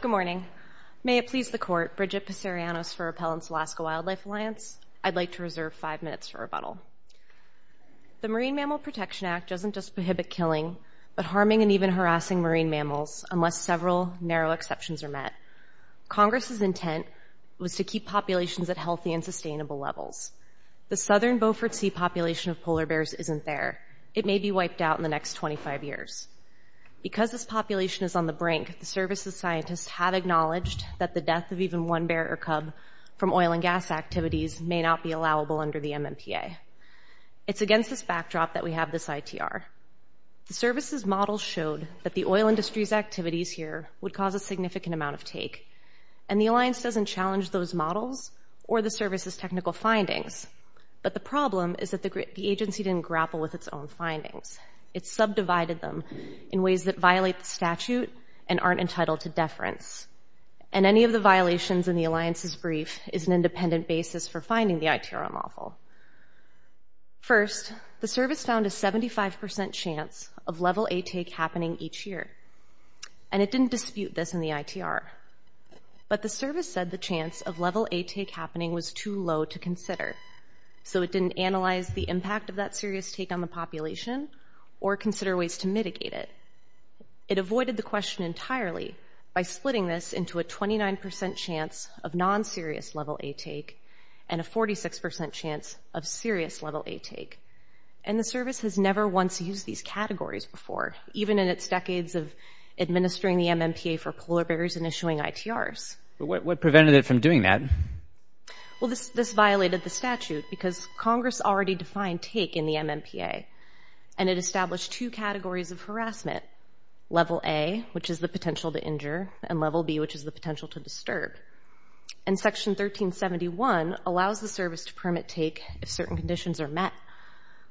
Good morning. May it please the Court, Bridget Pissarianos for Appellant's Alaska Wildlife Alliance. I'd like to reserve five minutes for rebuttal. The Marine Mammal Protection Act doesn't just prohibit killing, but harming and even harassing marine mammals, unless several narrow exceptions are met. Congress's intent was to keep populations at healthy and sustainable levels. The southern Beaufort Sea population of polar bears isn't there. It may be wiped out in the next 25 years. Because this population is on the brink, the service's scientists have acknowledged that the death of even one bear or cub from oil and gas activities may not be allowable under the MMPA. It's against this backdrop that we have this ITR. The service's model showed that the oil industry's activities here would cause a significant amount of take, and the Alliance doesn't challenge those models or the service's technical findings. But the problem is that the agency didn't grapple with its own findings. It subdivided them in ways that violate the statute and aren't entitled to deference. And any of the violations in the Alliance's brief is an independent basis for finding the ITR model. First, the service found a 75% chance of level A take happening each year. And it didn't dispute this in the ITR. But the service said the chance of level A take happening was too low to consider. So it didn't analyze the impact of that serious take on the population or consider ways to mitigate it. It avoided the question entirely by splitting this into a 29% chance of non-serious level A take and a 46% chance of serious level A take. And the service has never once used these categories before, even in its decades of administering the MMPA for polar bears and issuing ITRs. But what prevented it from doing that? Well, this violated the statute because Congress already defined take in the MMPA. And it established two categories of harassment, level A, which is the potential to injure, and level B, which is the potential to disturb. And Section 1371 allows the service to permit take if certain conditions are met.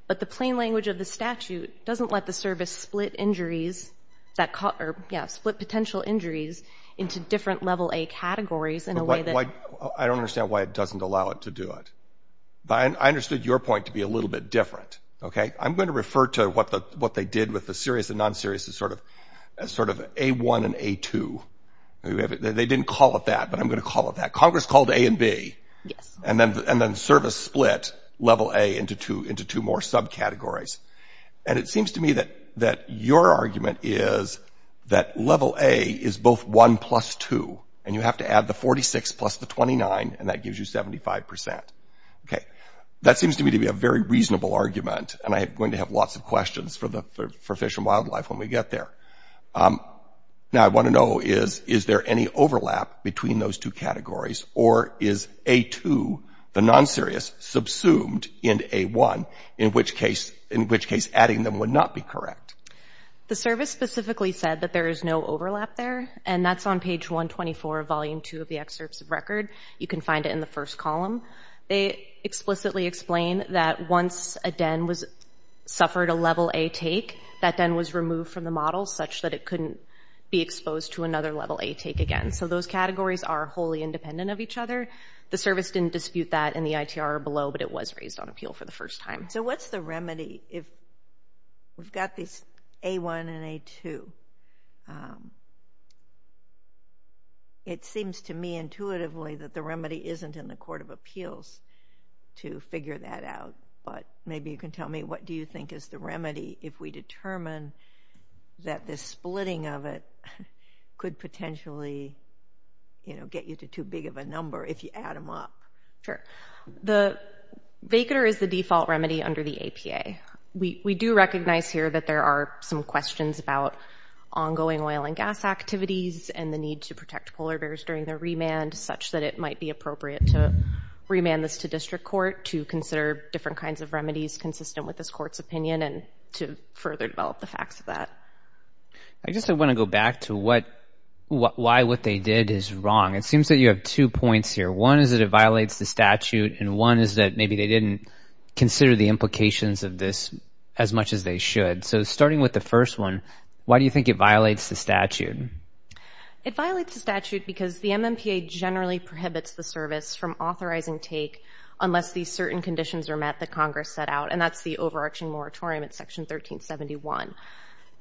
But the plain language of the statute doesn't let the service split injuries that caught or split potential injuries into different level A categories in a way that I don't understand why it doesn't allow it to do it. But I understood your point to be a little bit different. I'm going to refer to what they did with the serious and non-serious as sort of A1 and A2. They didn't call it that, but I'm going to call it that. Congress called A and B. And then service split level A into two more subcategories. And it seems to me that your argument is that level A is both 1 plus 2, and you have to add the 46 plus the 29, and that gives you 75 percent. Okay. That seems to me to be a very reasonable argument, and I'm going to have lots of questions for Fish and Wildlife when we get there. Now, what I want to know is, is there any overlap between those two categories, or is A2, the non-serious, subsumed into A1, in which case adding them would not be correct? The service specifically said that there is no overlap there, and that's on page 124 of volume 2 of the excerpts of record. You can find it in the first column. They explicitly explain that once a den suffered a level A take, that den was removed from the model such that it couldn't be exposed to another level A take again. So those categories are wholly independent of each other. The service didn't dispute that in the ITR or below, but it was raised on appeal for the first time. So what's the remedy if we've got this A1 and A2? It seems to me intuitively that the remedy isn't in the court of appeals to figure that out, but maybe you can tell me what do you think is the remedy if we determine that the splitting of it could potentially, you know, get you to too big of a number if you add them up? Sure. The vacanter is the default remedy under the APA. We do recognize here that there are some questions about ongoing oil and gas activities and the need to protect polar bears during their remand, such that it might be appropriate to remand this to district court to consider different kinds of remedies consistent with this court's opinion and to further develop the facts of that. I just want to go back to why what they did is wrong. It seems that you have two points here. One is that it violates the statute, and one is that maybe they didn't consider the implications of this as much as they should. So starting with the first one, why do you think it violates the statute? It violates the statute because the MMPA generally prohibits the service from authorizing take unless these certain conditions are met that Congress set out, and that's the overarching moratorium at Section 1371.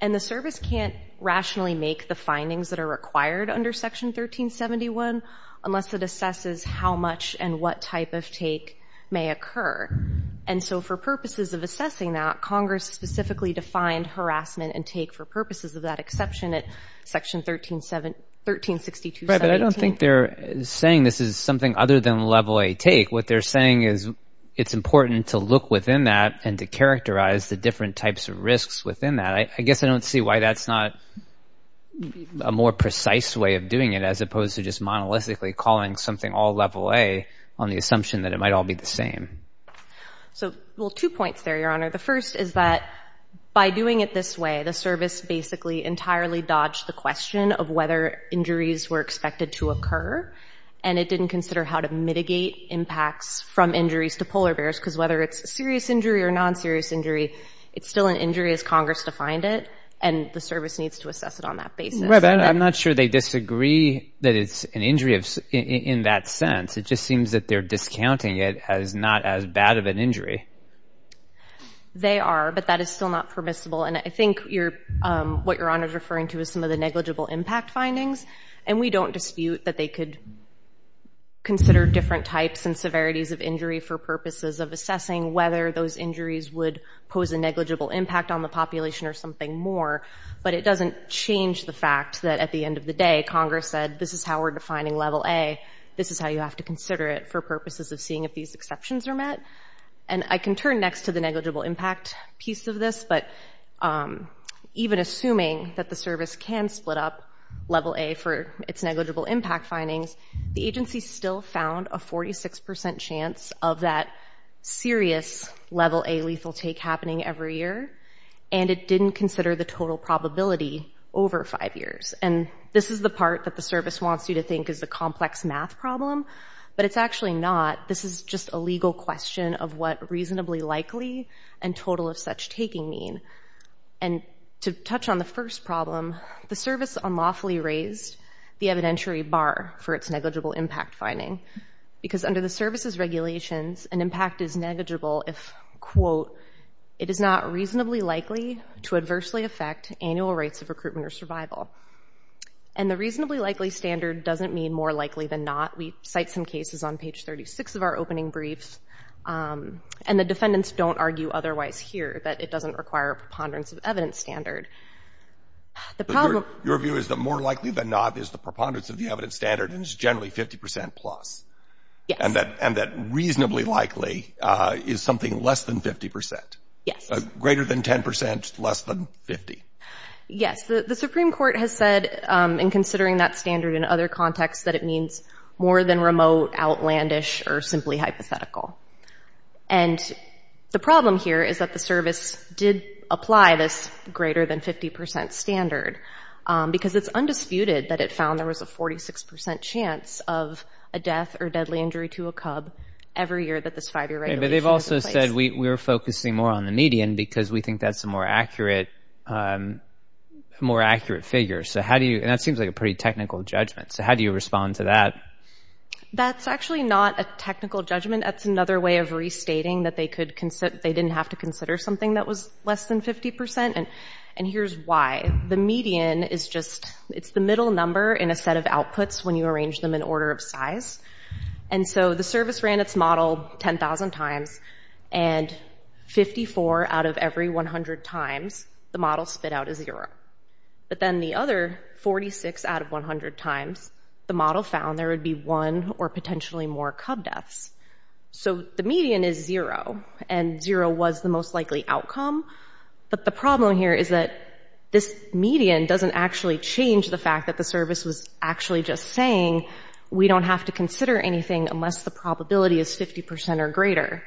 And the service can't rationally make the findings that are required under Section 1371 unless it assesses how much and what type of take may occur. And so for purposes of assessing that, Congress specifically defined harassment and take for purposes of that exception at Section 1362. Right, but I don't think they're saying this is something other than level A take. What they're saying is it's important to look within that and to characterize the different types of risks within that. I guess I don't see why that's not a more precise way of doing it as opposed to just monolithically calling something all level A on the assumption that it might all be the same. Well, two points there, Your Honor. The first is that by doing it this way, the service basically entirely dodged the question of whether injuries were expected to occur, and it didn't consider how to mitigate impacts from injuries to polar bears because whether it's a serious injury or a non-serious injury, it's still an injury as Congress defined it, and the service needs to assess it on that basis. I'm not sure they disagree that it's an injury in that sense. It just seems that they're discounting it as not as bad of an injury. They are, but that is still not permissible, and I think what Your Honor is referring to is some of the negligible impact findings, and we don't dispute that they could consider different types and severities of injury for purposes of assessing whether those injuries would pose a negligible impact on the population or something more, but it doesn't change the fact that at the end of the day, Congress said this is how we're defining level A, this is how you have to consider it for purposes of seeing if these exceptions are met. And I can turn next to the negligible impact piece of this, but even assuming that the service can split up level A for its negligible impact findings, the agency still found a 46% chance of that serious level A lethal take happening every year, and it didn't consider the total probability over five years. And this is the part that the service wants you to think is a complex math problem, but it's actually not. This is just a legal question of what reasonably likely and total of such taking mean. And to touch on the first problem, the service unlawfully raised the evidentiary bar for its negligible impact finding because under the service's regulations, an impact is negligible if, quote, it is not reasonably likely to adversely affect annual rates of recruitment or survival. And the reasonably likely standard doesn't mean more likely than not. We cite some cases on page 36 of our opening briefs, and the defendants don't argue otherwise here, that it doesn't require a preponderance of evidence standard. Your view is that more likely than not is the preponderance of the evidence standard, and it's generally 50% plus. Yes. And that reasonably likely is something less than 50%. Yes. Greater than 10%, less than 50%. Yes. The Supreme Court has said in considering that standard in other contexts that it means more than remote, outlandish, or simply hypothetical. And the problem here is that the service did apply this greater than 50% standard because it's undisputed that it found there was a 46% chance of a death or deadly injury to a cub every year that this five-year regulation was in place. But they've also said we're focusing more on the median because we think that's a more accurate figure. And that seems like a pretty technical judgment. So how do you respond to that? That's actually not a technical judgment. That's another way of restating that they didn't have to consider something that was less than 50%. And here's why. The median is just the middle number in a set of outputs when you arrange them in order of size. And so the service ran its model 10,000 times, and 54 out of every 100 times the model spit out a zero. But then the other 46 out of 100 times the model found there would be one or potentially more cub deaths. So the median is zero, and zero was the most likely outcome. But the problem here is that this median doesn't actually change the fact that the service was actually just saying we don't have to consider anything unless the probability is 50% or greater.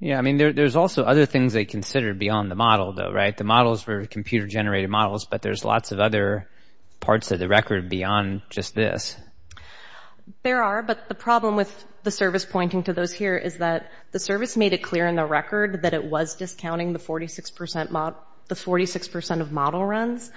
Yeah, I mean, there's also other things they considered beyond the model, though, right? The models were computer-generated models, but there's lots of other parts of the record beyond just this. There are, but the problem with the service pointing to those here is that the service made it clear in the record that it was discounting the 46% of model runs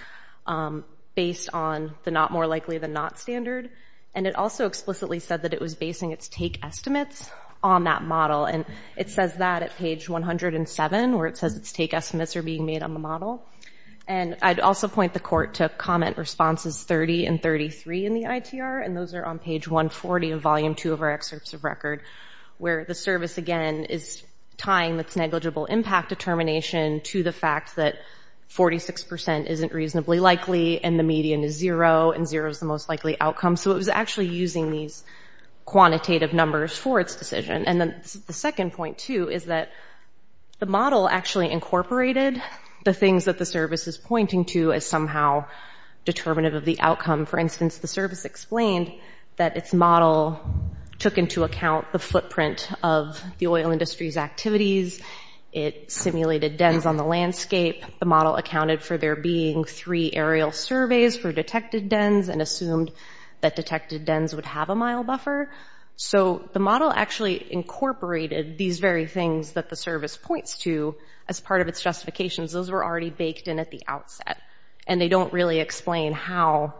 based on the not more likely than not standard, and it also explicitly said that it was basing its take estimates on that model. And it says that at page 107, where it says its take estimates are being made on the model. And I'd also point the court to comment responses 30 and 33 in the ITR, and those are on page 140 of volume 2 of our excerpts of record, where the service, again, is tying its negligible impact determination to the fact that 46% isn't reasonably likely, and the median is zero, and zero is the most likely outcome. So it was actually using these quantitative numbers for its decision. And then the second point, too, is that the model actually incorporated the things that the service is pointing to as somehow determinative of the outcome. For instance, the service explained that its model took into account the footprint of the oil industry's activities. It simulated dens on the landscape. The model accounted for there being three aerial surveys for detected dens and assumed that detected dens would have a mile buffer. So the model actually incorporated these very things that the service points to as part of its justifications. Those were already baked in at the outset, and they don't really explain how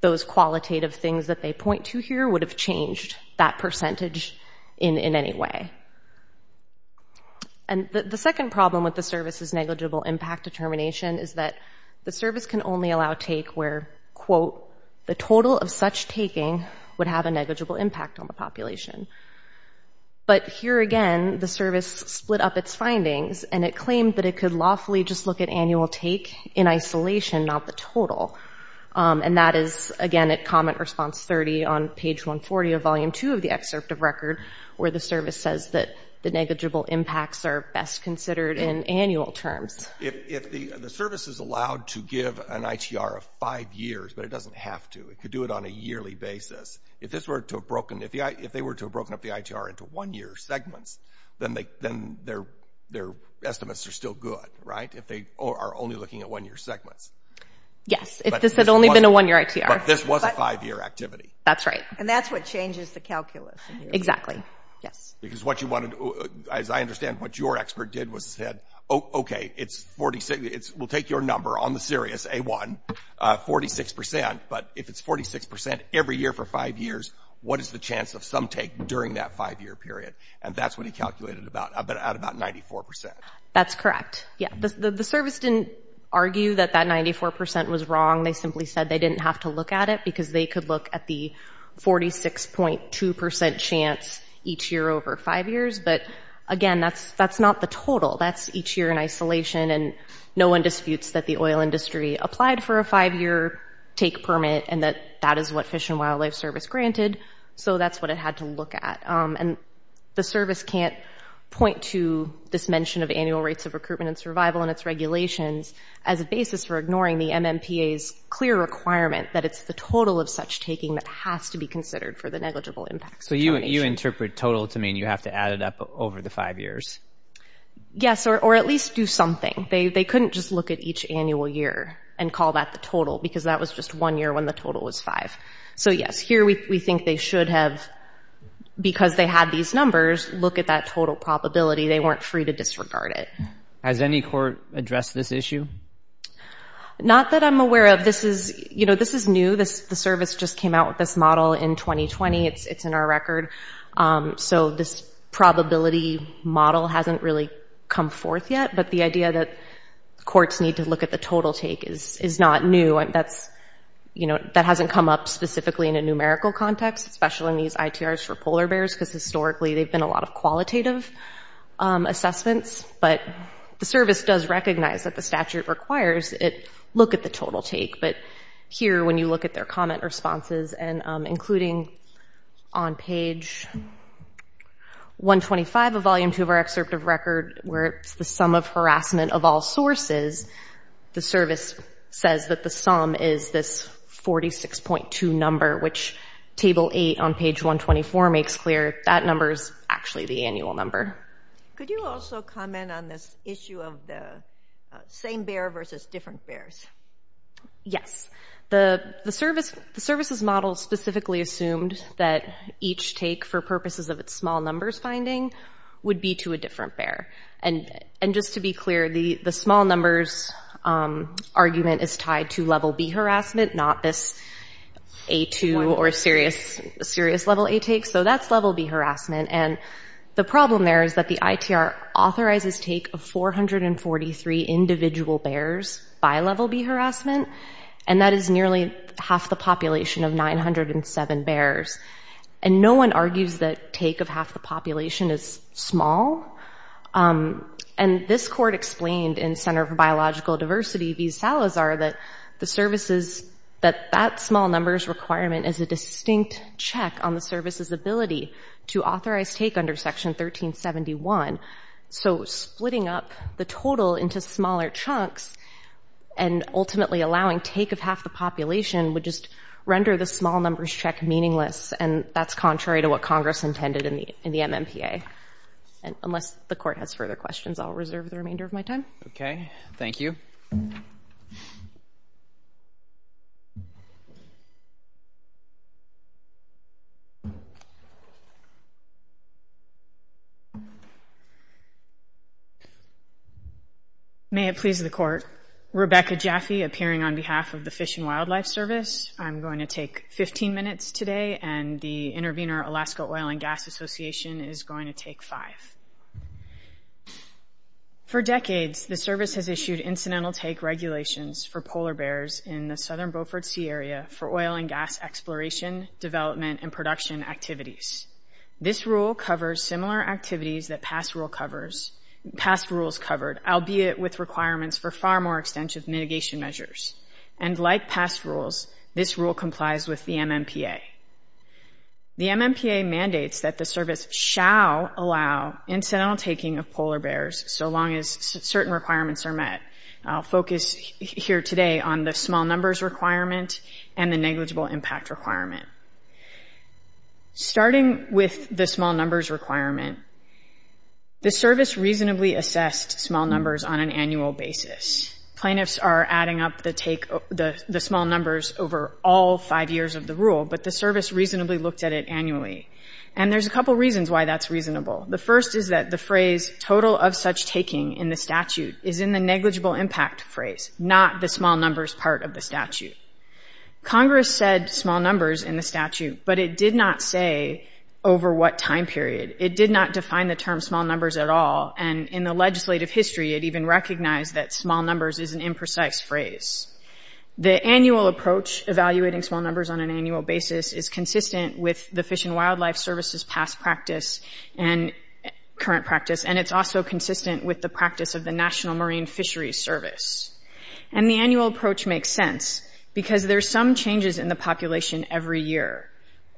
those qualitative things that they point to here would have changed that percentage in any way. And the second problem with the service's negligible impact determination is that the service can only allow take where, quote, the total of such taking would have a negligible impact on the population. But here again, the service split up its findings, and it claimed that it could lawfully just look at annual take in isolation, not the total. And that is, again, at comment response 30 on page 140 of volume 2 of the excerpt of record, where the service says that the negligible impacts are best considered in annual terms. If the service is allowed to give an ITR of five years, but it doesn't have to, it could do it on a yearly basis, if they were to have broken up the ITR into one-year segments, then their estimates are still good, right, if they are only looking at one-year segments. Yes, if this had only been a one-year ITR. But this was a five-year activity. That's right. And that's what changes the calculus. Exactly, yes. Because what you wanted to, as I understand, what your expert did was said, okay, it's 46, we'll take your number on the serious, A1, 46 percent, but if it's 46 percent every year for five years, what is the chance of some take during that five-year period? And that's what he calculated at about 94 percent. That's correct, yes. The service didn't argue that that 94 percent was wrong. They simply said they didn't have to look at it, because they could look at the 46.2 percent chance each year over five years. But, again, that's not the total. That's each year in isolation, and no one disputes that the oil industry applied for a five-year take permit, and that that is what Fish and Wildlife Service granted. So that's what it had to look at. And the service can't point to this mention of annual rates of recruitment and survival and its regulations as a basis for ignoring the MMPA's clear requirement that it's the total of such taking that has to be considered for the negligible impacts. So you interpret total to mean you have to add it up over the five years? Yes, or at least do something. They couldn't just look at each annual year and call that the total, because that was just one year when the total was five. So, yes, here we think they should have, because they had these numbers, look at that total probability. They weren't free to disregard it. Has any court addressed this issue? Not that I'm aware of. This is new. The service just came out with this model in 2020. It's in our record. So this probability model hasn't really come forth yet, but the idea that courts need to look at the total take is not new. That hasn't come up specifically in a numerical context, especially in these ITRs for polar bears, because historically they've been a lot of qualitative assessments. But the service does recognize that the statute requires it look at the total take. But here, when you look at their comment responses, including on page 125 of Volume 2 of our excerpt of record, where it's the sum of harassment of all sources, the service says that the sum is this 46.2 number, which Table 8 on page 124 makes clear that number is actually the annual number. Could you also comment on this issue of the same bear versus different bears? Yes. The service's model specifically assumed that each take, for purposes of its small numbers finding, would be to a different bear. And just to be clear, the small numbers argument is tied to Level B harassment, not this A2 or serious Level A take. So that's Level B harassment. And the problem there is that the ITR authorizes take of 443 individual bears by Level B harassment, and that is nearly half the population of 907 bears. And no one argues that take of half the population is small. And this court explained in Center for Biological Diversity v. Salazar that that small numbers requirement is a distinct check on the service's ability to authorize take under Section 1371. So splitting up the total into smaller chunks and ultimately allowing take of half the population would just render the small numbers check meaningless, and that's contrary to what Congress intended in the MMPA. Unless the court has further questions, I'll reserve the remainder of my time. Okay. Thank you. May it please the Court. Rebecca Jaffe, appearing on behalf of the Fish and Wildlife Service. I'm going to take 15 minutes today, and the Intervenor Alaska Oil and Gas Association is going to take five. For decades, the service has issued incidental take regulations for polar bears in the southern Beaufort Sea area for oil and gas exploration, development, and production activities. This rule covers similar activities that past rules covered, albeit with requirements for far more extensive mitigation measures. And like past rules, this rule complies with the MMPA. The MMPA mandates that the service shall allow incidental taking of polar bears so long as certain requirements are met. I'll focus here today on the small numbers requirement and the negligible impact requirement. Starting with the small numbers requirement, the service reasonably assessed small numbers on an annual basis. Plaintiffs are adding up the small numbers over all five years of the rule, but the service reasonably looked at it annually. And there's a couple reasons why that's reasonable. The first is that the phrase, total of such taking in the statute, is in the negligible impact phrase, not the small numbers part of the statute. Congress said small numbers in the statute, but it did not say over what time period. It did not define the term small numbers at all. And in the legislative history, it even recognized that small numbers is an imprecise phrase. The annual approach evaluating small numbers on an annual basis is consistent with the Fish and Wildlife Service's past practice and current practice, and it's also consistent with the practice of the National Marine Fisheries Service. And the annual approach makes sense because there's some changes in the population every year.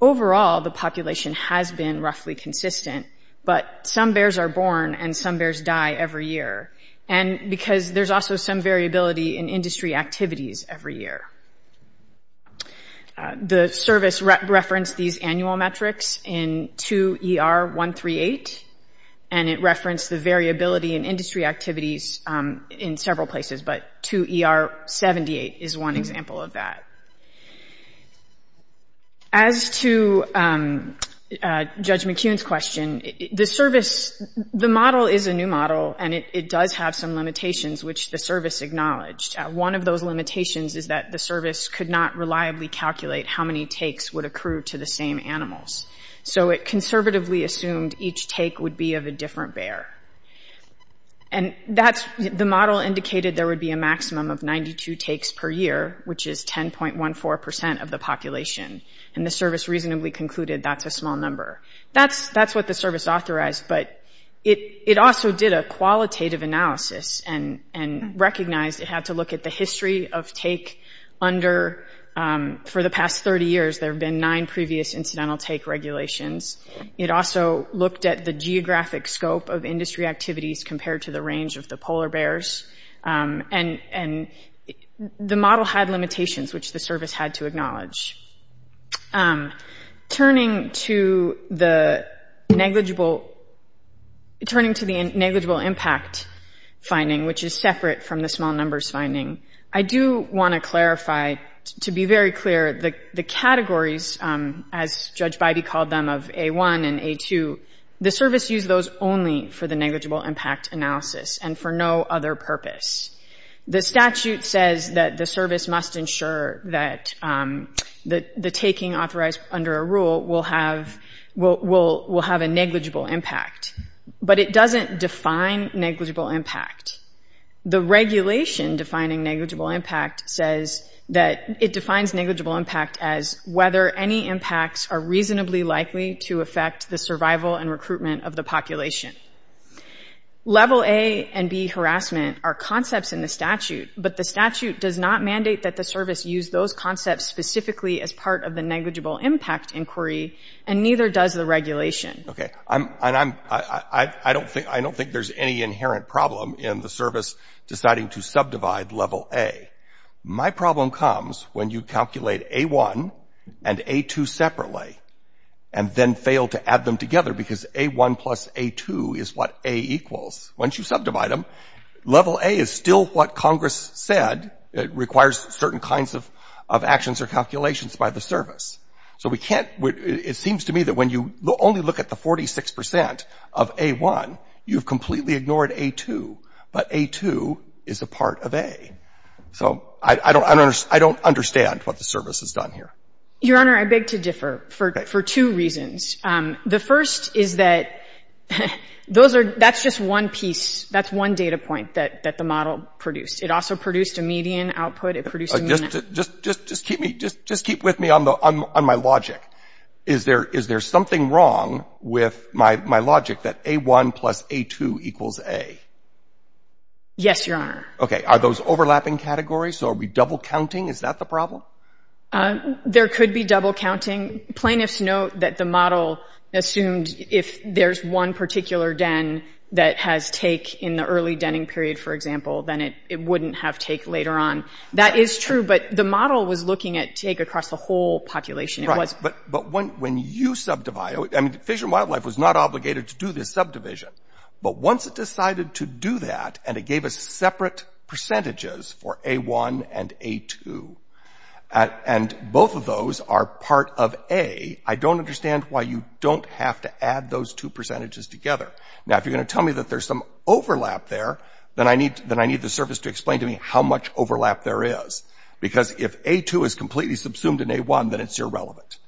Overall, the population has been roughly consistent, but some bears are born and some bears die every year, because there's also some variability in industry activities every year. The service referenced these annual metrics in 2ER138, and it referenced the variability in industry activities in several places, but 2ER78 is one example of that. As to Judge McKeon's question, the model is a new model, and it does have some limitations, which the service acknowledged. One of those limitations is that the service could not reliably calculate how many takes would accrue to the same animals. So it conservatively assumed each take would be of a different bear. And the model indicated there would be a maximum of 92 takes per year, which is 10.14% of the population. And the service reasonably concluded that's a small number. That's what the service authorized, but it also did a qualitative analysis and recognized it had to look at the history of take under, for the past 30 years, there have been nine previous incidental take regulations. It also looked at the geographic scope of industry activities compared to the range of the polar bears. And the model had limitations, which the service had to acknowledge. Turning to the negligible impact finding, which is separate from the small numbers finding, I do want to clarify, to be very clear, the categories, as Judge Bybee called them, of A1 and A2, the service used those only for the negligible impact analysis and for no other purpose. The statute says that the service must ensure that the taking authorized under a rule will have a negligible impact. But it doesn't define negligible impact. The regulation defining negligible impact says that it defines negligible impact as whether any impacts are reasonably likely to affect the survival and recruitment of the population. Level A and B harassment are concepts in the statute, but the statute does not mandate that the service use those concepts specifically as part of the negligible impact inquiry, and neither does the regulation. Okay. I don't think there's any inherent problem in the service deciding to subdivide level A. My problem comes when you calculate A1 and A2 separately and then fail to add them together because A1 plus A2 is what A equals. Once you subdivide them, level A is still what Congress said requires certain kinds of actions or calculations by the service. So we can't – it seems to me that when you only look at the 46 percent of A1, you've completely ignored A2, but A2 is a part of A. So I don't understand what the service has done here. Your Honor, I beg to differ for two reasons. The first is that those are – that's just one piece. That's one data point that the model produced. It also produced a median output. It produced a median – Just keep me – just keep with me on my logic. Is there something wrong with my logic that A1 plus A2 equals A? Yes, Your Honor. Are those overlapping categories? So are we double counting? Is that the problem? There could be double counting. Plaintiffs note that the model assumed if there's one particular den that has take in the early denning period, for example, then it wouldn't have take later on. That is true, but the model was looking at take across the whole population. It wasn't – Right, but when you subdivide – I mean, Fish and Wildlife was not obligated to do this subdivision, but once it decided to do that and it gave us separate percentages for A1 and A2, and both of those are part of A, I don't understand why you don't have to add those two percentages together. Now, if you're going to tell me that there's some overlap there, then I need the service to explain to me how much overlap there is, because if A2 is completely subsumed in A1, then it's irrelevant.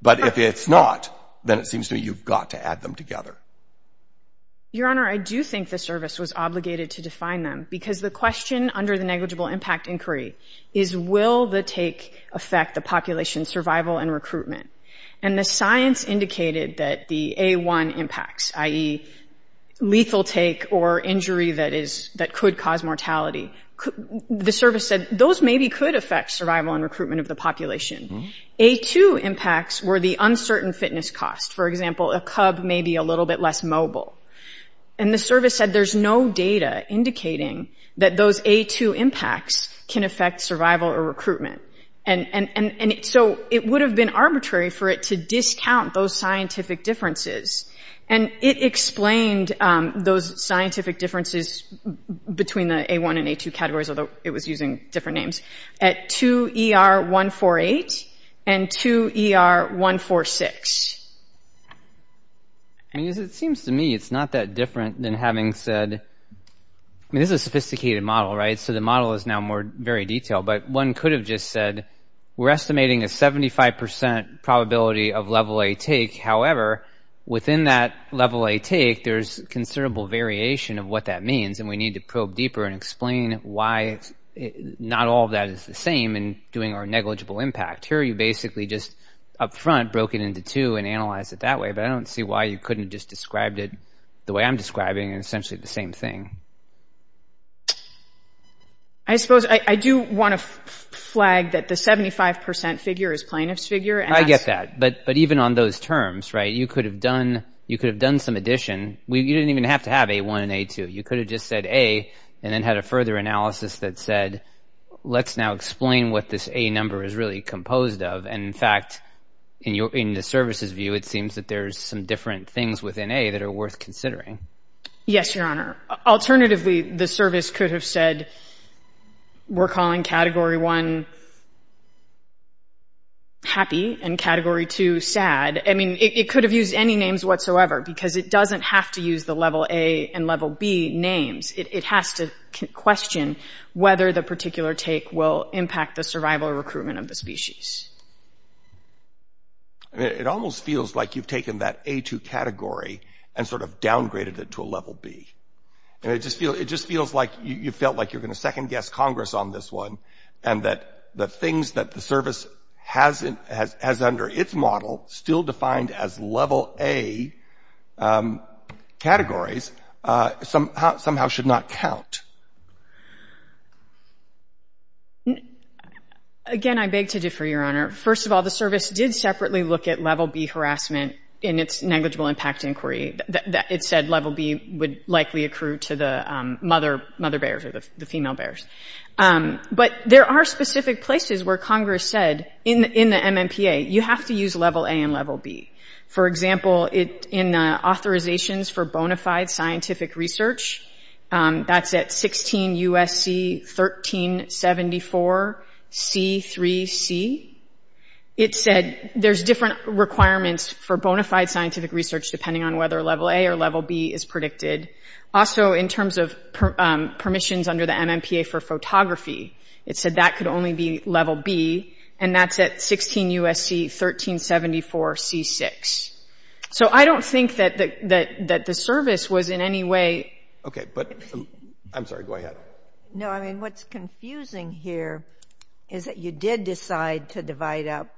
But if it's not, then it seems to me you've got to add them together. Your Honor, I do think the service was obligated to define them, because the question under the negligible impact inquiry is, will the take affect the population's survival and recruitment? And the science indicated that the A1 impacts, i.e., lethal take or injury that could cause mortality, the service said, those maybe could affect survival and recruitment of the population. A2 impacts were the uncertain fitness cost. For example, a cub may be a little bit less mobile. And the service said there's no data indicating that those A2 impacts can affect survival or recruitment. So it would have been arbitrary for it to discount those scientific differences. And it explained those scientific differences between the A1 and A2 categories, although it was using different names, at 2ER148 and 2ER146. I mean, it seems to me it's not that different than having said – I mean, this is a sophisticated model, right? So the model is now very detailed. But one could have just said we're estimating a 75% probability of Level A take. However, within that Level A take, there's considerable variation of what that means, and we need to probe deeper and explain why not all of that is the same in doing our negligible impact. Here you basically just up front broke it into two and analyzed it that way. But I don't see why you couldn't have just described it the way I'm describing and essentially the same thing. I suppose I do want to flag that the 75% figure is plaintiff's figure. I get that. But even on those terms, right, you could have done some addition. You didn't even have to have A1 and A2. You could have just said A and then had a further analysis that said, let's now explain what this A number is really composed of. And, in fact, in the service's view, it seems that there's some different things within A that are worth considering. Yes, Your Honor. Alternatively, the service could have said we're calling Category 1 happy and Category 2 sad. I mean, it could have used any names whatsoever because it doesn't have to use the Level A and Level B names. It has to question whether the particular take will impact the survival or recruitment of the species. It almost feels like you've taken that A2 category and sort of downgraded it to a Level B. It just feels like you felt like you're going to second-guess Congress on this one and that the things that the service has under its model still defined as Level A categories somehow should not count. Again, I beg to differ, Your Honor. First of all, the service did separately look at Level B harassment in its negligible impact inquiry. It said Level B would likely accrue to the mother bears or the female bears. But there are specific places where Congress said in the MMPA, you have to use Level A and Level B. For example, in the Authorizations for Bonafide Scientific Research, that's at 16 U.S.C. 1374 C.3.C. It said there's different requirements for bonafide scientific research depending on whether Level A or Level B is predicted. Also, in terms of permissions under the MMPA for photography, it said that could only be Level B. And that's at 16 U.S.C. 1374 C.6. So I don't think that the service was in any way— Okay, but—I'm sorry, go ahead. No, I mean, what's confusing here is that you did decide to divide up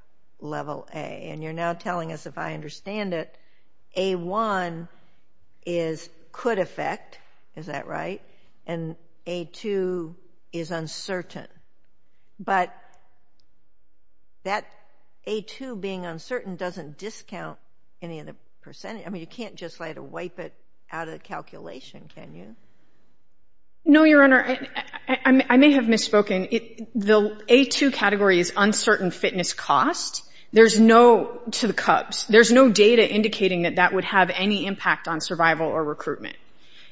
Level A. And you're now telling us, if I understand it, A1 is could affect. Is that right? And A2 is uncertain. But that A2 being uncertain doesn't discount any of the percentage. I mean, you can't just, like, wipe it out of the calculation, can you? No, Your Honor. I may have misspoken. The A2 category is uncertain fitness cost. There's no—to the Cubs— there's no data indicating that that would have any impact on survival or recruitment.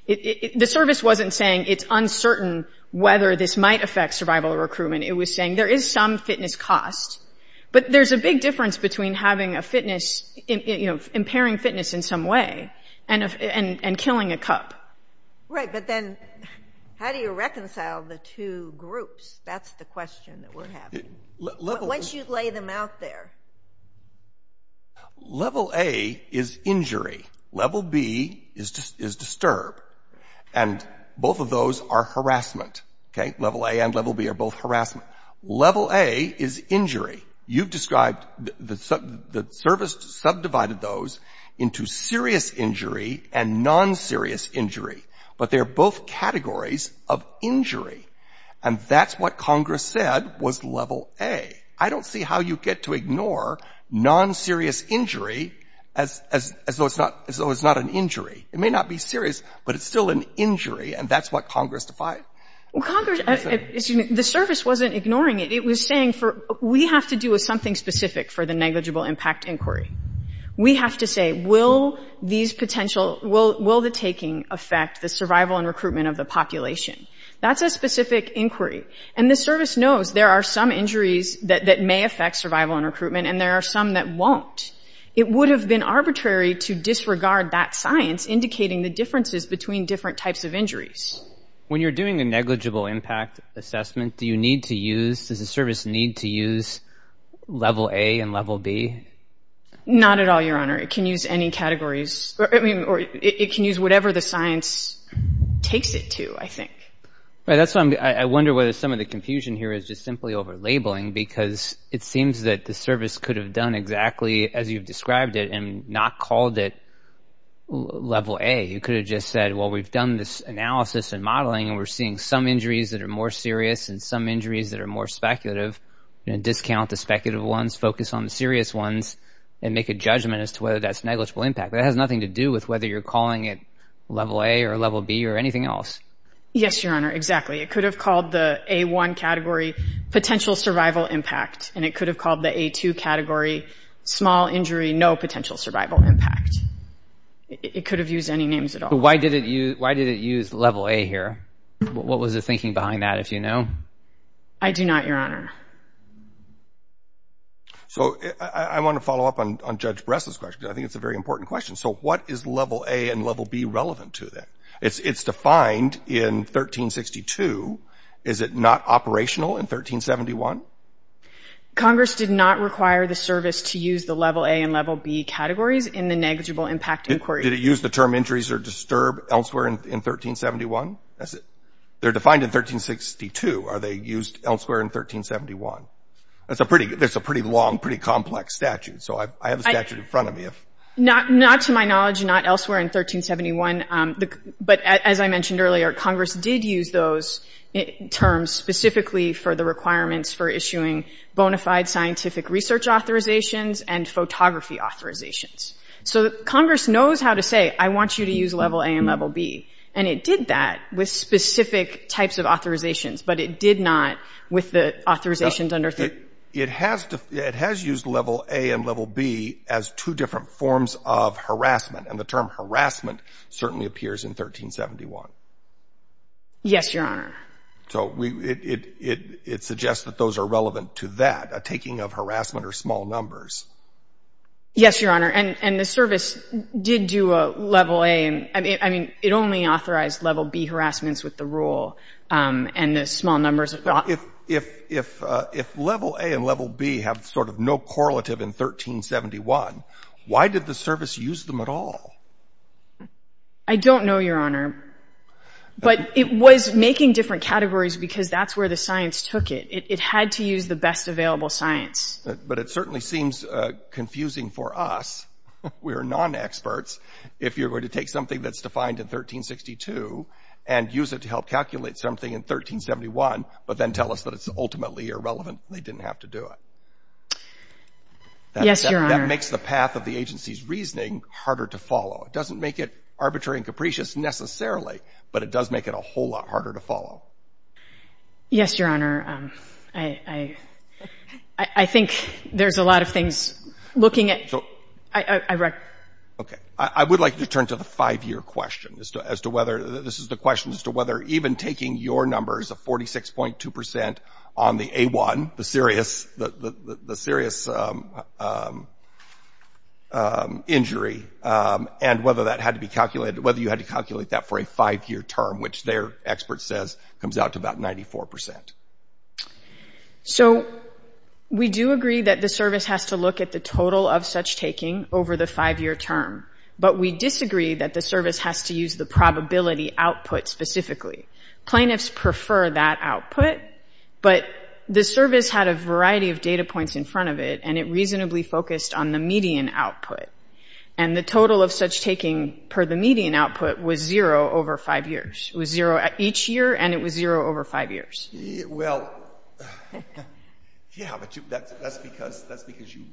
The service wasn't saying it's uncertain whether this might affect survival or recruitment. It was saying there is some fitness cost. But there's a big difference between having a fitness—you know, impairing fitness in some way and killing a Cub. Right, but then how do you reconcile the two groups? That's the question that we're having. Once you lay them out there. Level A is injury. Level B is disturb. And both of those are harassment. Level A and Level B are both harassment. Level A is injury. You've described—the service subdivided those into serious injury and non-serious injury. But they're both categories of injury. And that's what Congress said was Level A. I don't see how you get to ignore non-serious injury as though it's not an injury. It may not be serious, but it's still an injury, and that's what Congress defied. Congress—the service wasn't ignoring it. It was saying, we have to do something specific for the negligible impact inquiry. We have to say, will these potential—will the taking affect the survival and recruitment of the population? That's a specific inquiry. And the service knows there are some injuries that may affect survival and recruitment, and there are some that won't. It would have been arbitrary to disregard that science indicating the differences between different types of injuries. When you're doing a negligible impact assessment, do you need to use—does the service need to use Level A and Level B? Not at all, Your Honor. It can use any categories—or it can use whatever the science takes it to, I think. Right. That's why I wonder whether some of the confusion here is just simply over labeling, because it seems that the service could have done exactly as you've described it and not called it Level A. You could have just said, well, we've done this analysis and modeling, and we're seeing some injuries that are more serious and some injuries that are more speculative, and discount the speculative ones, focus on the serious ones, and make a judgment as to whether that's negligible impact. That has nothing to do with whether you're calling it Level A or Level B or anything else. Yes, Your Honor, exactly. It could have called the A1 category potential survival impact, and it could have called the A2 category small injury, no potential survival impact. It could have used any names at all. Why did it use Level A here? What was the thinking behind that, if you know? I do not, Your Honor. So I want to follow up on Judge Bress's question, because I think it's a very important question. So what is Level A and Level B relevant to that? It's defined in 1362. Is it not operational in 1371? Congress did not require the service to use the Level A and Level B categories in the negligible impact inquiry. Did it use the term injuries or disturb elsewhere in 1371? They're defined in 1362. Are they used elsewhere in 1371? That's a pretty long, pretty complex statute, so I have a statute in front of me. Not to my knowledge, not elsewhere in 1371, but as I mentioned earlier, Congress did use those terms specifically for the requirements for issuing bona fide scientific research authorizations and photography authorizations. So Congress knows how to say, I want you to use Level A and Level B, and it did that with specific types of authorizations, but it did not with the authorizations under 1362. It has used Level A and Level B as two different forms of harassment, and the term harassment certainly appears in 1371. Yes, Your Honor. So it suggests that those are relevant to that, a taking of harassment or small numbers. Yes, Your Honor. And the service did do a Level A. I mean, it only authorized Level B harassments with the rule, and the small numbers are not. If Level A and Level B have sort of no correlative in 1371, why did the service use them at all? I don't know, Your Honor. But it was making different categories because that's where the science took it. It had to use the best available science. But it certainly seems confusing for us. We are non-experts. If you were to take something that's defined in 1362 and use it to help calculate something in 1371 but then tell us that it's ultimately irrelevant, they didn't have to do it. Yes, Your Honor. That makes the path of the agency's reasoning harder to follow. It doesn't make it arbitrary and capricious necessarily, but it does make it a whole lot harder to follow. Yes, Your Honor. I think there's a lot of things looking at. Okay. I would like to turn to the five-year question as to whether this is the question as to whether even taking your numbers of 46.2% on the A1, the serious injury, and whether you had to calculate that for a five-year term, which their expert says comes out to about 94%. So we do agree that the service has to look at the total of such taking over the five-year term. But we disagree that the service has to use the probability output specifically. Plaintiffs prefer that output, but the service had a variety of data points in front of it and it reasonably focused on the median output. And the total of such taking per the median output was zero over five years. It was zero each year and it was zero over five years. Well, yeah, but that's because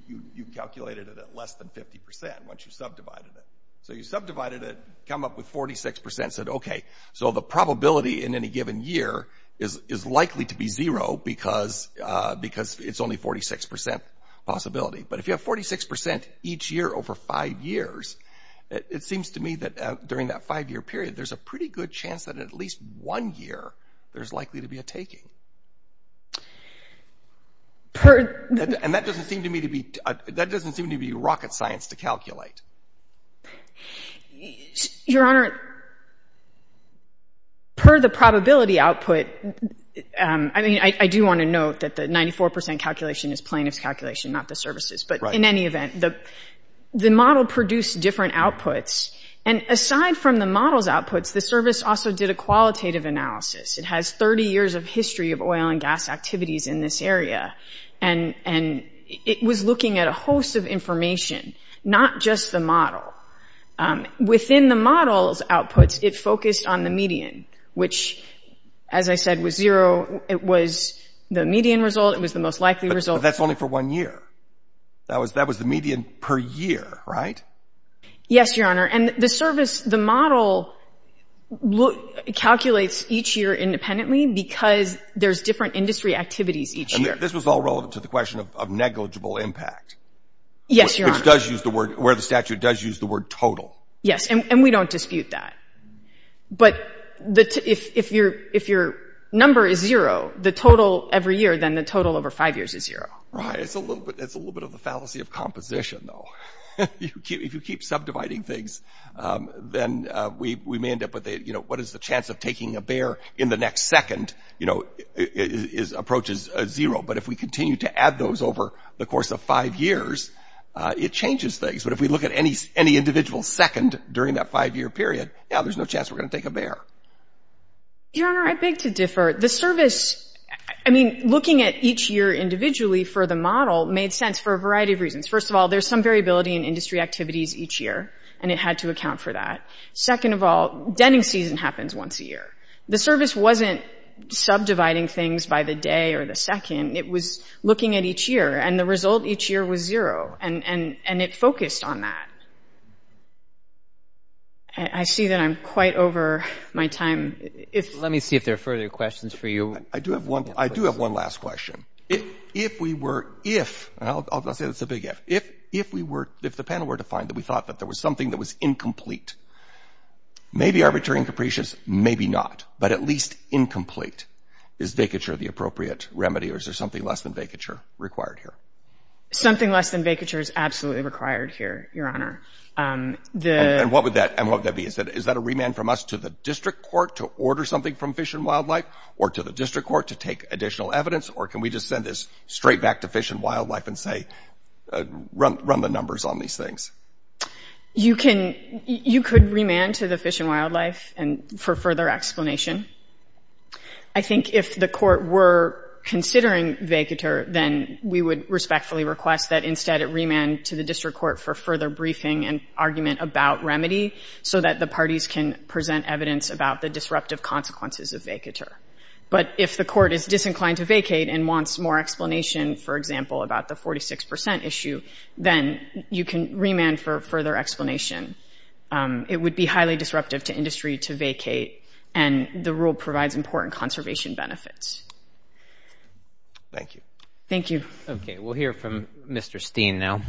you calculated it at less than 50% once you subdivided it. So you subdivided it, come up with 46%, said, okay, so the probability in any given year is likely to be zero because it's only 46% possibility. But if you have 46% each year over five years, it seems to me that during that five-year period, there's a pretty good chance that at least one year there's likely to be a taking. And that doesn't seem to me to be rocket science to calculate. Your Honor, per the probability output, I mean, I do want to note that the 94% calculation is plaintiff's calculation, not the service's. But in any event, the model produced different outputs. And aside from the model's outputs, the service also did a qualitative analysis. It has 30 years of history of oil and gas activities in this area. And it was looking at a host of information, not just the model. Within the model's outputs, it focused on the median, which, as I said, was zero. It was the median result. It was the most likely result. But that's only for one year. That was the median per year, right? Yes, Your Honor. And the model calculates each year independently because there's different industry activities each year. And this was all relevant to the question of negligible impact. Yes, Your Honor. Where the statute does use the word total. Yes, and we don't dispute that. But if your number is zero, the total every year, then the total over five years is zero. Right. It's a little bit of a fallacy of composition, though. If you keep subdividing things, then we may end up with, you know, what is the chance of taking a bear in the next second, you know, approaches zero. But if we continue to add those over the course of five years, it changes things. But if we look at any individual second during that five-year period, now there's no chance we're going to take a bear. Your Honor, I beg to differ. The service, I mean, looking at each year individually for the model made sense for a variety of reasons. First of all, there's some variability in industry activities each year, and it had to account for that. Second of all, denning season happens once a year. The service wasn't subdividing things by the day or the second. It was looking at each year, and the result each year was zero, and it focused on that. I see that I'm quite over my time. Let me see if there are further questions for you. I do have one last question. If we were, if, and I'll say it's a big if, if we were, if the panel were to find that we thought that there was something that was incomplete, maybe arbitrary and capricious, maybe not, but at least incomplete, is vacature the appropriate remedy, or is there something less than vacature required here? Something less than vacature is absolutely required here, Your Honor. And what would that be? Is that a remand from us to the district court to order something from Fish and Wildlife or to the district court to take additional evidence, or can we just send this straight back to Fish and Wildlife and say, run the numbers on these things? You can, you could remand to the Fish and Wildlife for further explanation. I think if the court were considering vacature, then we would respectfully request that instead it remand to the district court for further briefing and argument about remedy so that the parties can present evidence about the disruptive consequences of vacature. But if the court is disinclined to vacate and wants more explanation, for example, about the 46 percent issue, then you can remand for further explanation. It would be highly disruptive to industry to vacate, and the rule provides important conservation benefits. Thank you. Thank you. Okay, we'll hear from Mr. Steen now.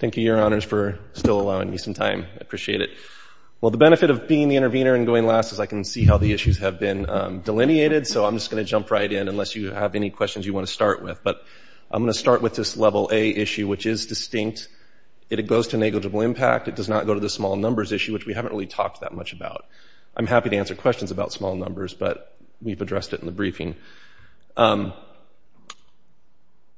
Thank you, Your Honors, for still allowing me some time. I appreciate it. Well, the benefit of being the intervener and going last is I can see how the issues have been delineated, so I'm just going to jump right in unless you have any questions you want to start with. But I'm going to start with this Level A issue, which is distinct. It goes to negligible impact. It does not go to the small numbers issue, which we haven't really talked that much about. I'm happy to answer questions about small numbers, but we've addressed it in the briefing. On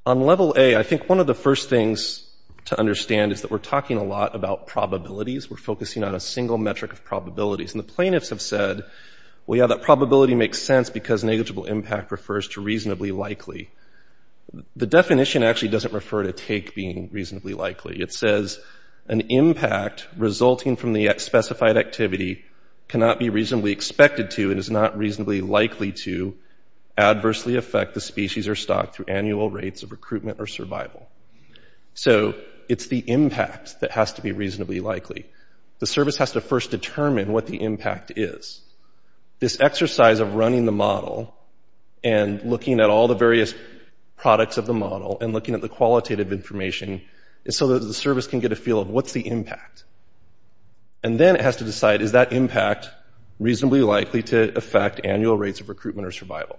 Level A, I think one of the first things to understand is that we're talking a lot about probabilities. We're focusing on a single metric of probabilities. And the plaintiffs have said, well, yeah, that probability makes sense because negligible impact refers to reasonably likely. The definition actually doesn't refer to take being reasonably likely. It says an impact resulting from the specified activity cannot be reasonably expected to and is not reasonably likely to adversely affect the species or stock through annual rates of recruitment or survival. So it's the impact that has to be reasonably likely. The service has to first determine what the impact is. This exercise of running the model and looking at all the various products of the model and looking at the qualitative information is so that the service can get a feel of what's the impact. And then it has to decide is that impact reasonably likely to affect annual rates of recruitment or survival.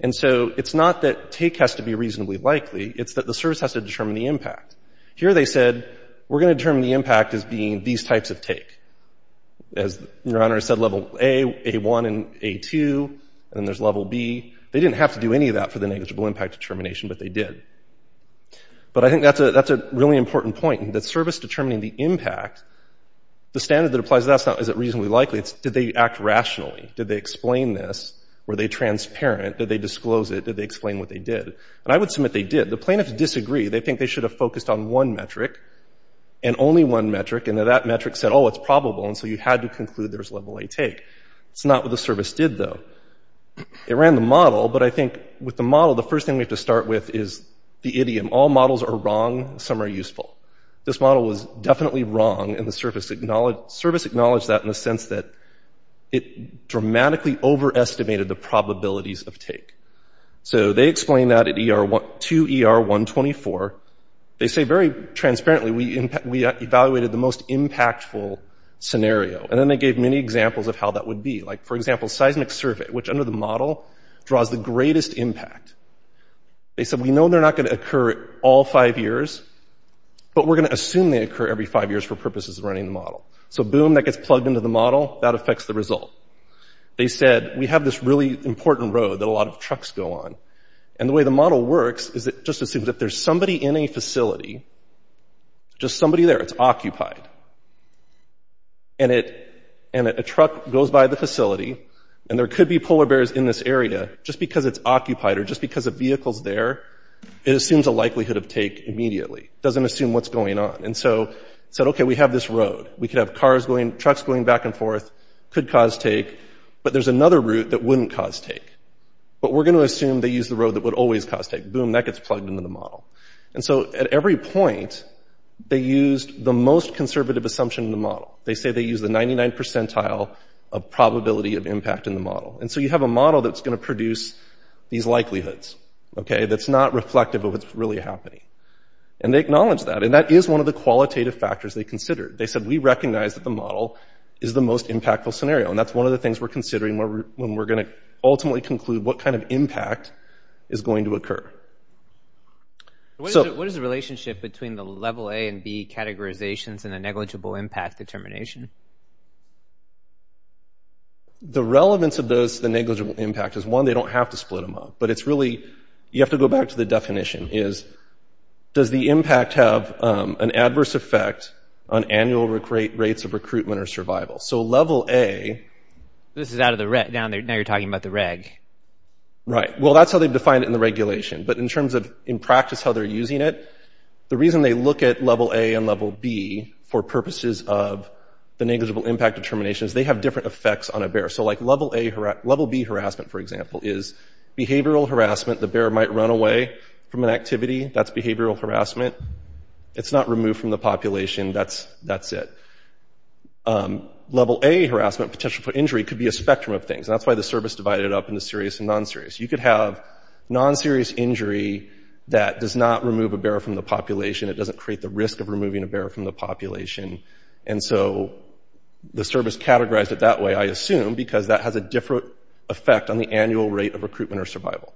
And so it's not that take has to be reasonably likely. It's that the service has to determine the impact. Here they said we're going to determine the impact as being these types of take. As Your Honor said, level A, A1, and A2, and then there's level B. They didn't have to do any of that for the negligible impact determination, but they did. But I think that's a really important point, that service determining the impact, the standard that applies to that is not is it reasonably likely. It's did they act rationally? Did they explain this? Were they transparent? Did they disclose it? Did they explain what they did? And I would submit they did. The plaintiffs disagree. They think they should have focused on one metric, and only one metric, and that metric said, oh, it's probable, and so you had to conclude there's level A take. It's not what the service did, though. It ran the model, but I think with the model, the first thing we have to start with is the idiom, all models are wrong, some are useful. This model was definitely wrong, and the service acknowledged that in the sense that it dramatically overestimated the probabilities of take. So they explained that to ER-124. They say very transparently we evaluated the most impactful scenario, and then they gave many examples of how that would be. Like, for example, seismic survey, which under the model draws the greatest impact. They said we know they're not going to occur all five years, but we're going to assume they occur every five years for purposes of running the model. So boom, that gets plugged into the model. That affects the result. They said we have this really important road that a lot of trucks go on, and the way the model works is it just assumes if there's somebody in a facility, just somebody there, it's occupied, and a truck goes by the facility, and there could be polar bears in this area, just because it's occupied or just because a vehicle's there, it assumes a likelihood of take immediately. It doesn't assume what's going on, and so it said, okay, we have this road. We could have trucks going back and forth, could cause take, but there's another route that wouldn't cause take, but we're going to assume they use the road that would always cause take. Boom, that gets plugged into the model. And so at every point, they used the most conservative assumption in the model. They say they use the 99 percentile of probability of impact in the model. And so you have a model that's going to produce these likelihoods, okay, that's not reflective of what's really happening. And they acknowledge that, and that is one of the qualitative factors they considered. They said, we recognize that the model is the most impactful scenario, and that's one of the things we're considering when we're going to ultimately conclude what kind of impact is going to occur. So what is the relationship between the level A and B categorizations and the negligible impact determination? The relevance of the negligible impact is, one, they don't have to split them up, but it's really – you have to go back to the definition is, does the impact have an adverse effect on annual rates of recruitment or survival? So level A – This is out of the – now you're talking about the reg. Right. Well, that's how they've defined it in the regulation. But in terms of, in practice, how they're using it, the reason they look at level A and level B for purposes of the negligible impact determination is they have different effects on a bear. So, like, level A – level B harassment, for example, is behavioral harassment. The bear might run away from an activity. That's behavioral harassment. It's not removed from the population. That's it. Level A harassment, potential for injury, could be a spectrum of things, and that's why the service divided it up into serious and non-serious. You could have non-serious injury that does not remove a bear from the population. It doesn't create the risk of removing a bear from the population. And so the service categorized it that way, I assume, because that has a different effect on the annual rate of recruitment or survival.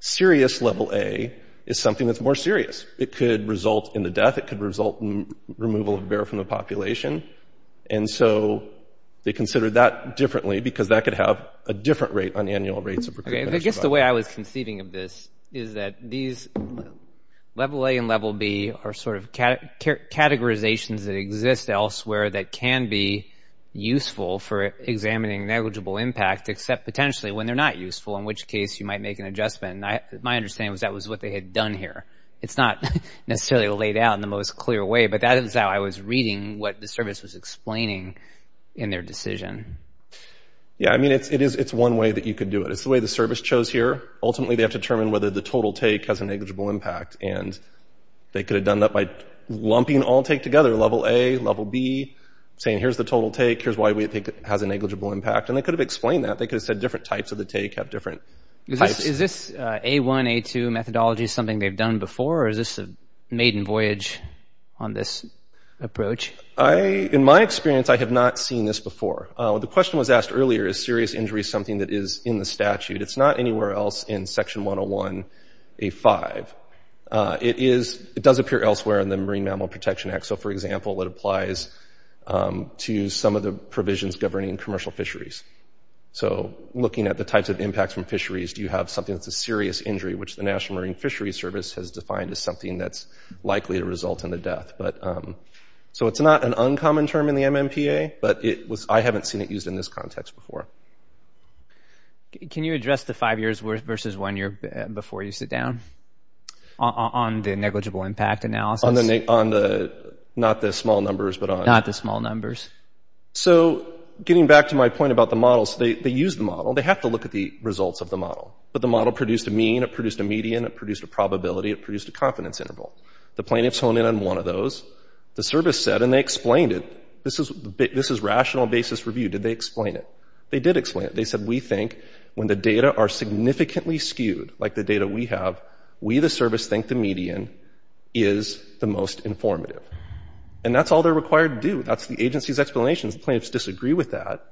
Serious level A is something that's more serious. It could result in the death. It could result in removal of a bear from the population. And so they considered that differently because that could have a different rate on annual rates of recruitment and survival. Okay, and I guess the way I was conceiving of this is that these – level A and level B are sort of categorizations that exist elsewhere that can be useful for examining negligible impact, except potentially when they're not useful, in which case you might make an adjustment. My understanding was that was what they had done here. It's not necessarily laid out in the most clear way, but that is how I was reading what the service was explaining in their decision. Yeah, I mean, it's one way that you could do it. It's the way the service chose here. Ultimately, they have to determine whether the total take has a negligible impact, and they could have done that by lumping all take together – level A, level B – saying, here's the total take. Here's why we think it has a negligible impact. And they could have explained that. They could have said different types of the take have different types. Is this A1, A2 methodology something they've done before, or is this a maiden voyage on this approach? In my experience, I have not seen this before. The question was asked earlier, is serious injury something that is in the statute? It's not anywhere else in Section 101A5. It is – it does appear elsewhere in the Marine Mammal Protection Act. So, for example, it applies to some of the provisions governing commercial fisheries. So looking at the types of impacts from fisheries, do you have something that's a serious injury, which the National Marine Fisheries Service has defined as something that's likely to result in the death. So it's not an uncommon term in the MMPA, but it was – I haven't seen it used in this context before. Can you address the five years versus one year before you sit down? On the negligible impact analysis? On the – not the small numbers, but on… Not the small numbers. So getting back to my point about the models, they use the model. They have to look at the results of the model. But the model produced a mean, it produced a median, it produced a probability, it produced a confidence interval. The plaintiffs hone in on one of those. The service said – and they explained it. This is rational basis review. Did they explain it? They did explain it. They said, we think when the data are significantly skewed, like the data we have, we, the service, think the median is the most informative. And that's all they're required to do. That's the agency's explanation. The plaintiffs disagree with that,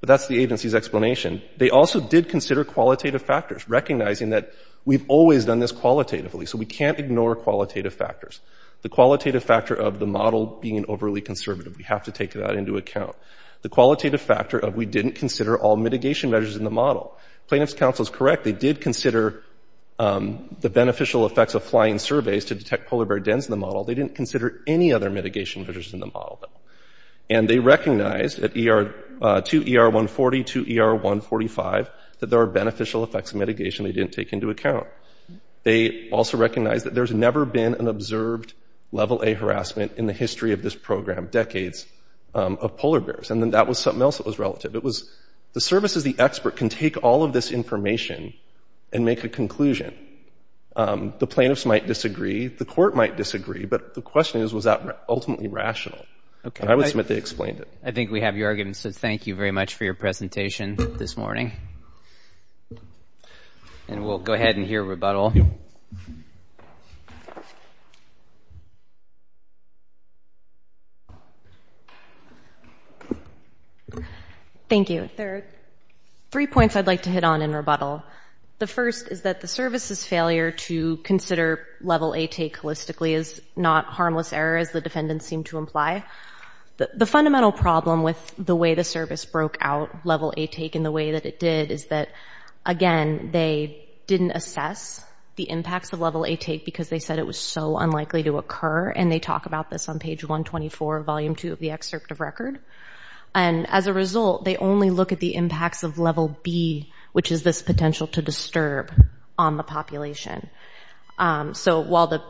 but that's the agency's explanation. They also did consider qualitative factors, recognizing that we've always done this qualitatively, so we can't ignore qualitative factors. The qualitative factor of the model being overly conservative, we have to take that into account. The qualitative factor of we didn't consider all mitigation measures in the model. Plaintiffs' counsel is correct. They did consider the beneficial effects of flying surveys to detect polar bear dens in the model. They didn't consider any other mitigation measures in the model, though. And they recognized at 2ER140, 2ER145, that there are beneficial effects of mitigation they didn't take into account. They also recognized that there's never been an observed level A harassment in the history of this program, decades of polar bears. And then that was something else that was relative. It was the service as the expert can take all of this information and make a conclusion. The plaintiffs might disagree. The court might disagree. But the question is, was that ultimately rational? And I would submit they explained it. I think we have your argument, so thank you very much for your presentation this morning. And we'll go ahead and hear rebuttal. Thank you. There are three points I'd like to hit on in rebuttal. The first is that the service's failure to consider level A take holistically is not harmless error, as the defendants seem to imply. The fundamental problem with the way the service broke out level A take in the way that it did is that, again, they didn't assess the impacts of level A take because they said it was so unlikely to occur. And they talk about this on page 124 of volume 2 of the excerpt of record. And as a result, they only look at the impacts of level B, which is this potential to disturb on the population. So while the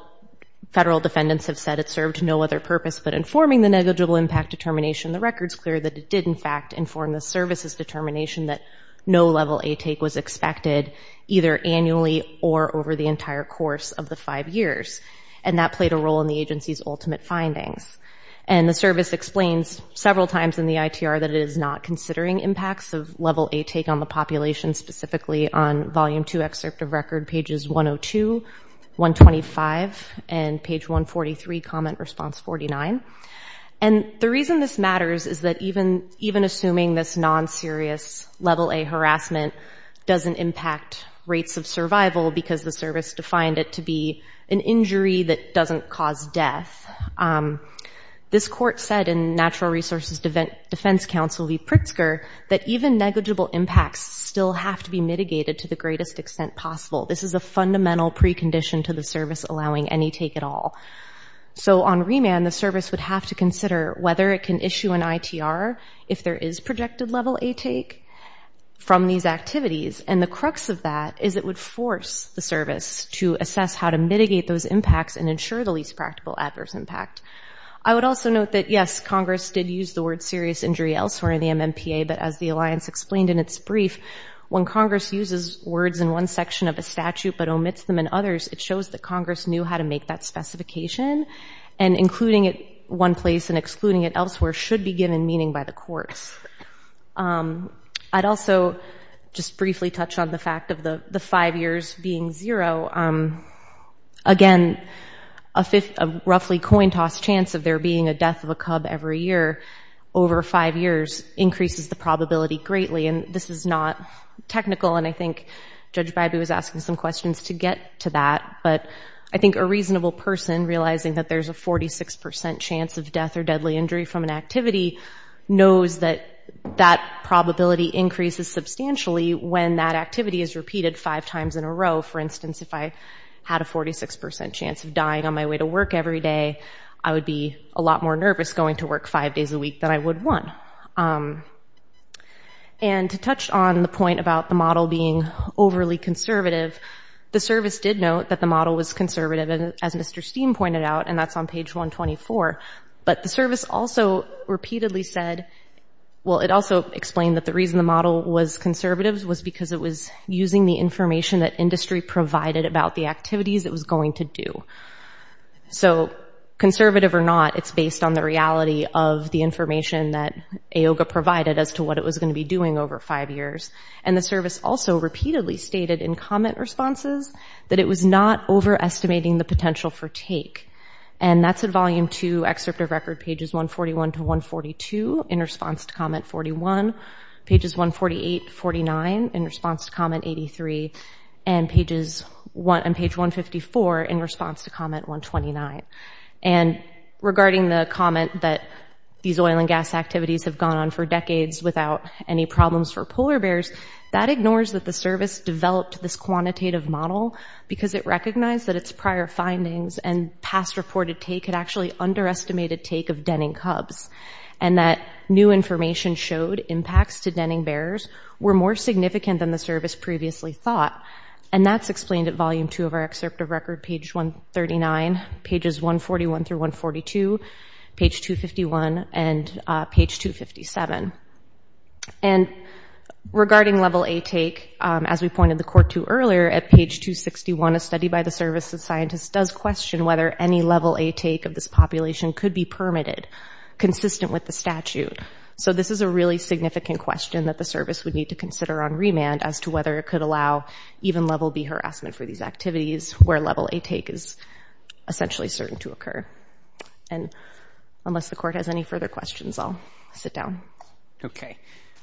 federal defendants have said it served no other purpose but informing the negligible impact determination, the record's clear that it did, in fact, inform the service's determination that no level A take was expected either annually or over the entire course of the five years. And that played a role in the agency's ultimate findings. And the service explains several times in the ITR that it is not considering impacts of level A take on the population, specifically on volume 2 excerpt of record, pages 102, 125, and page 143, comment response 49. And the reason this matters is that even assuming this non-serious level A harassment doesn't impact rates of survival because the service defined it to be an injury that doesn't cause death, this court said in Natural Resources Defense Council v. Pritzker that even negligible impacts still have to be mitigated to the greatest extent possible. This is a fundamental precondition to the service allowing any take at all. So on remand, the service would have to consider whether it can issue an ITR if there is projected level A take from these activities. And the crux of that is it would force the service to assess how to mitigate those impacts and ensure the least practical adverse impact. I would also note that, yes, Congress did use the word serious injury elsewhere in the MMPA, but as the alliance explained in its brief, when Congress uses words in one section of a statute but omits them in others, it shows that Congress knew how to make that specification, and including it one place and excluding it elsewhere should be given meaning by the courts. I'd also just briefly touch on the fact of the five years being zero. Again, a roughly coin-toss chance of there being a death of a cub every year over five years increases the probability greatly, and this is not technical, and I think Judge Bybee was asking some questions to get to that, but I think a reasonable person realizing that there's a 46% chance of death or deadly injury from an activity knows that that probability increases substantially when that activity is repeated five times in a row. For instance, if I had a 46% chance of dying on my way to work every day, I would be a lot more nervous going to work five days a week than I would one. And to touch on the point about the model being overly conservative, the service did note that the model was conservative, as Mr. Steen pointed out, and that's on page 124. But the service also repeatedly said, well, it also explained that the reason the model was conservative was because it was using the information that industry provided about the activities it was going to do. So conservative or not, it's based on the reality of the information that AOGA provided as to what it was going to be doing over five years. And the service also repeatedly stated in comment responses that it was not overestimating the potential for take, and that's in volume two, excerpt of record pages 141 to 142 in response to comment 41, pages 148 to 49 in response to comment 83, and page 154 in response to comment 129. And regarding the comment that these oil and gas activities have gone on for decades without any problems for polar bears, that ignores that the service developed this quantitative model because it recognized that its prior findings and past reported take had actually underestimated take of denning cubs, and that new information showed impacts to denning bears were more significant than the service previously thought. And that's explained at volume two of our excerpt of record, page 139, pages 141 through 142, page 251, and page 257. And regarding level A take, as we pointed the court to earlier, at page 261 a study by the Service of Scientists does question whether any level A take of this population could be permitted, consistent with the statute. So this is a really significant question that the service would need to consider on remand as to whether it could allow even level B harassment for these activities where level A take is essentially certain to occur. And unless the court has any further questions, I'll sit down. Okay.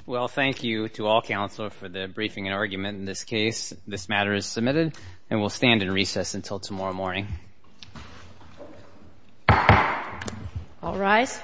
Well, thank you to all counsel for the briefing and argument in this case. This matter is submitted, and we'll stand in recess until tomorrow morning. All rise.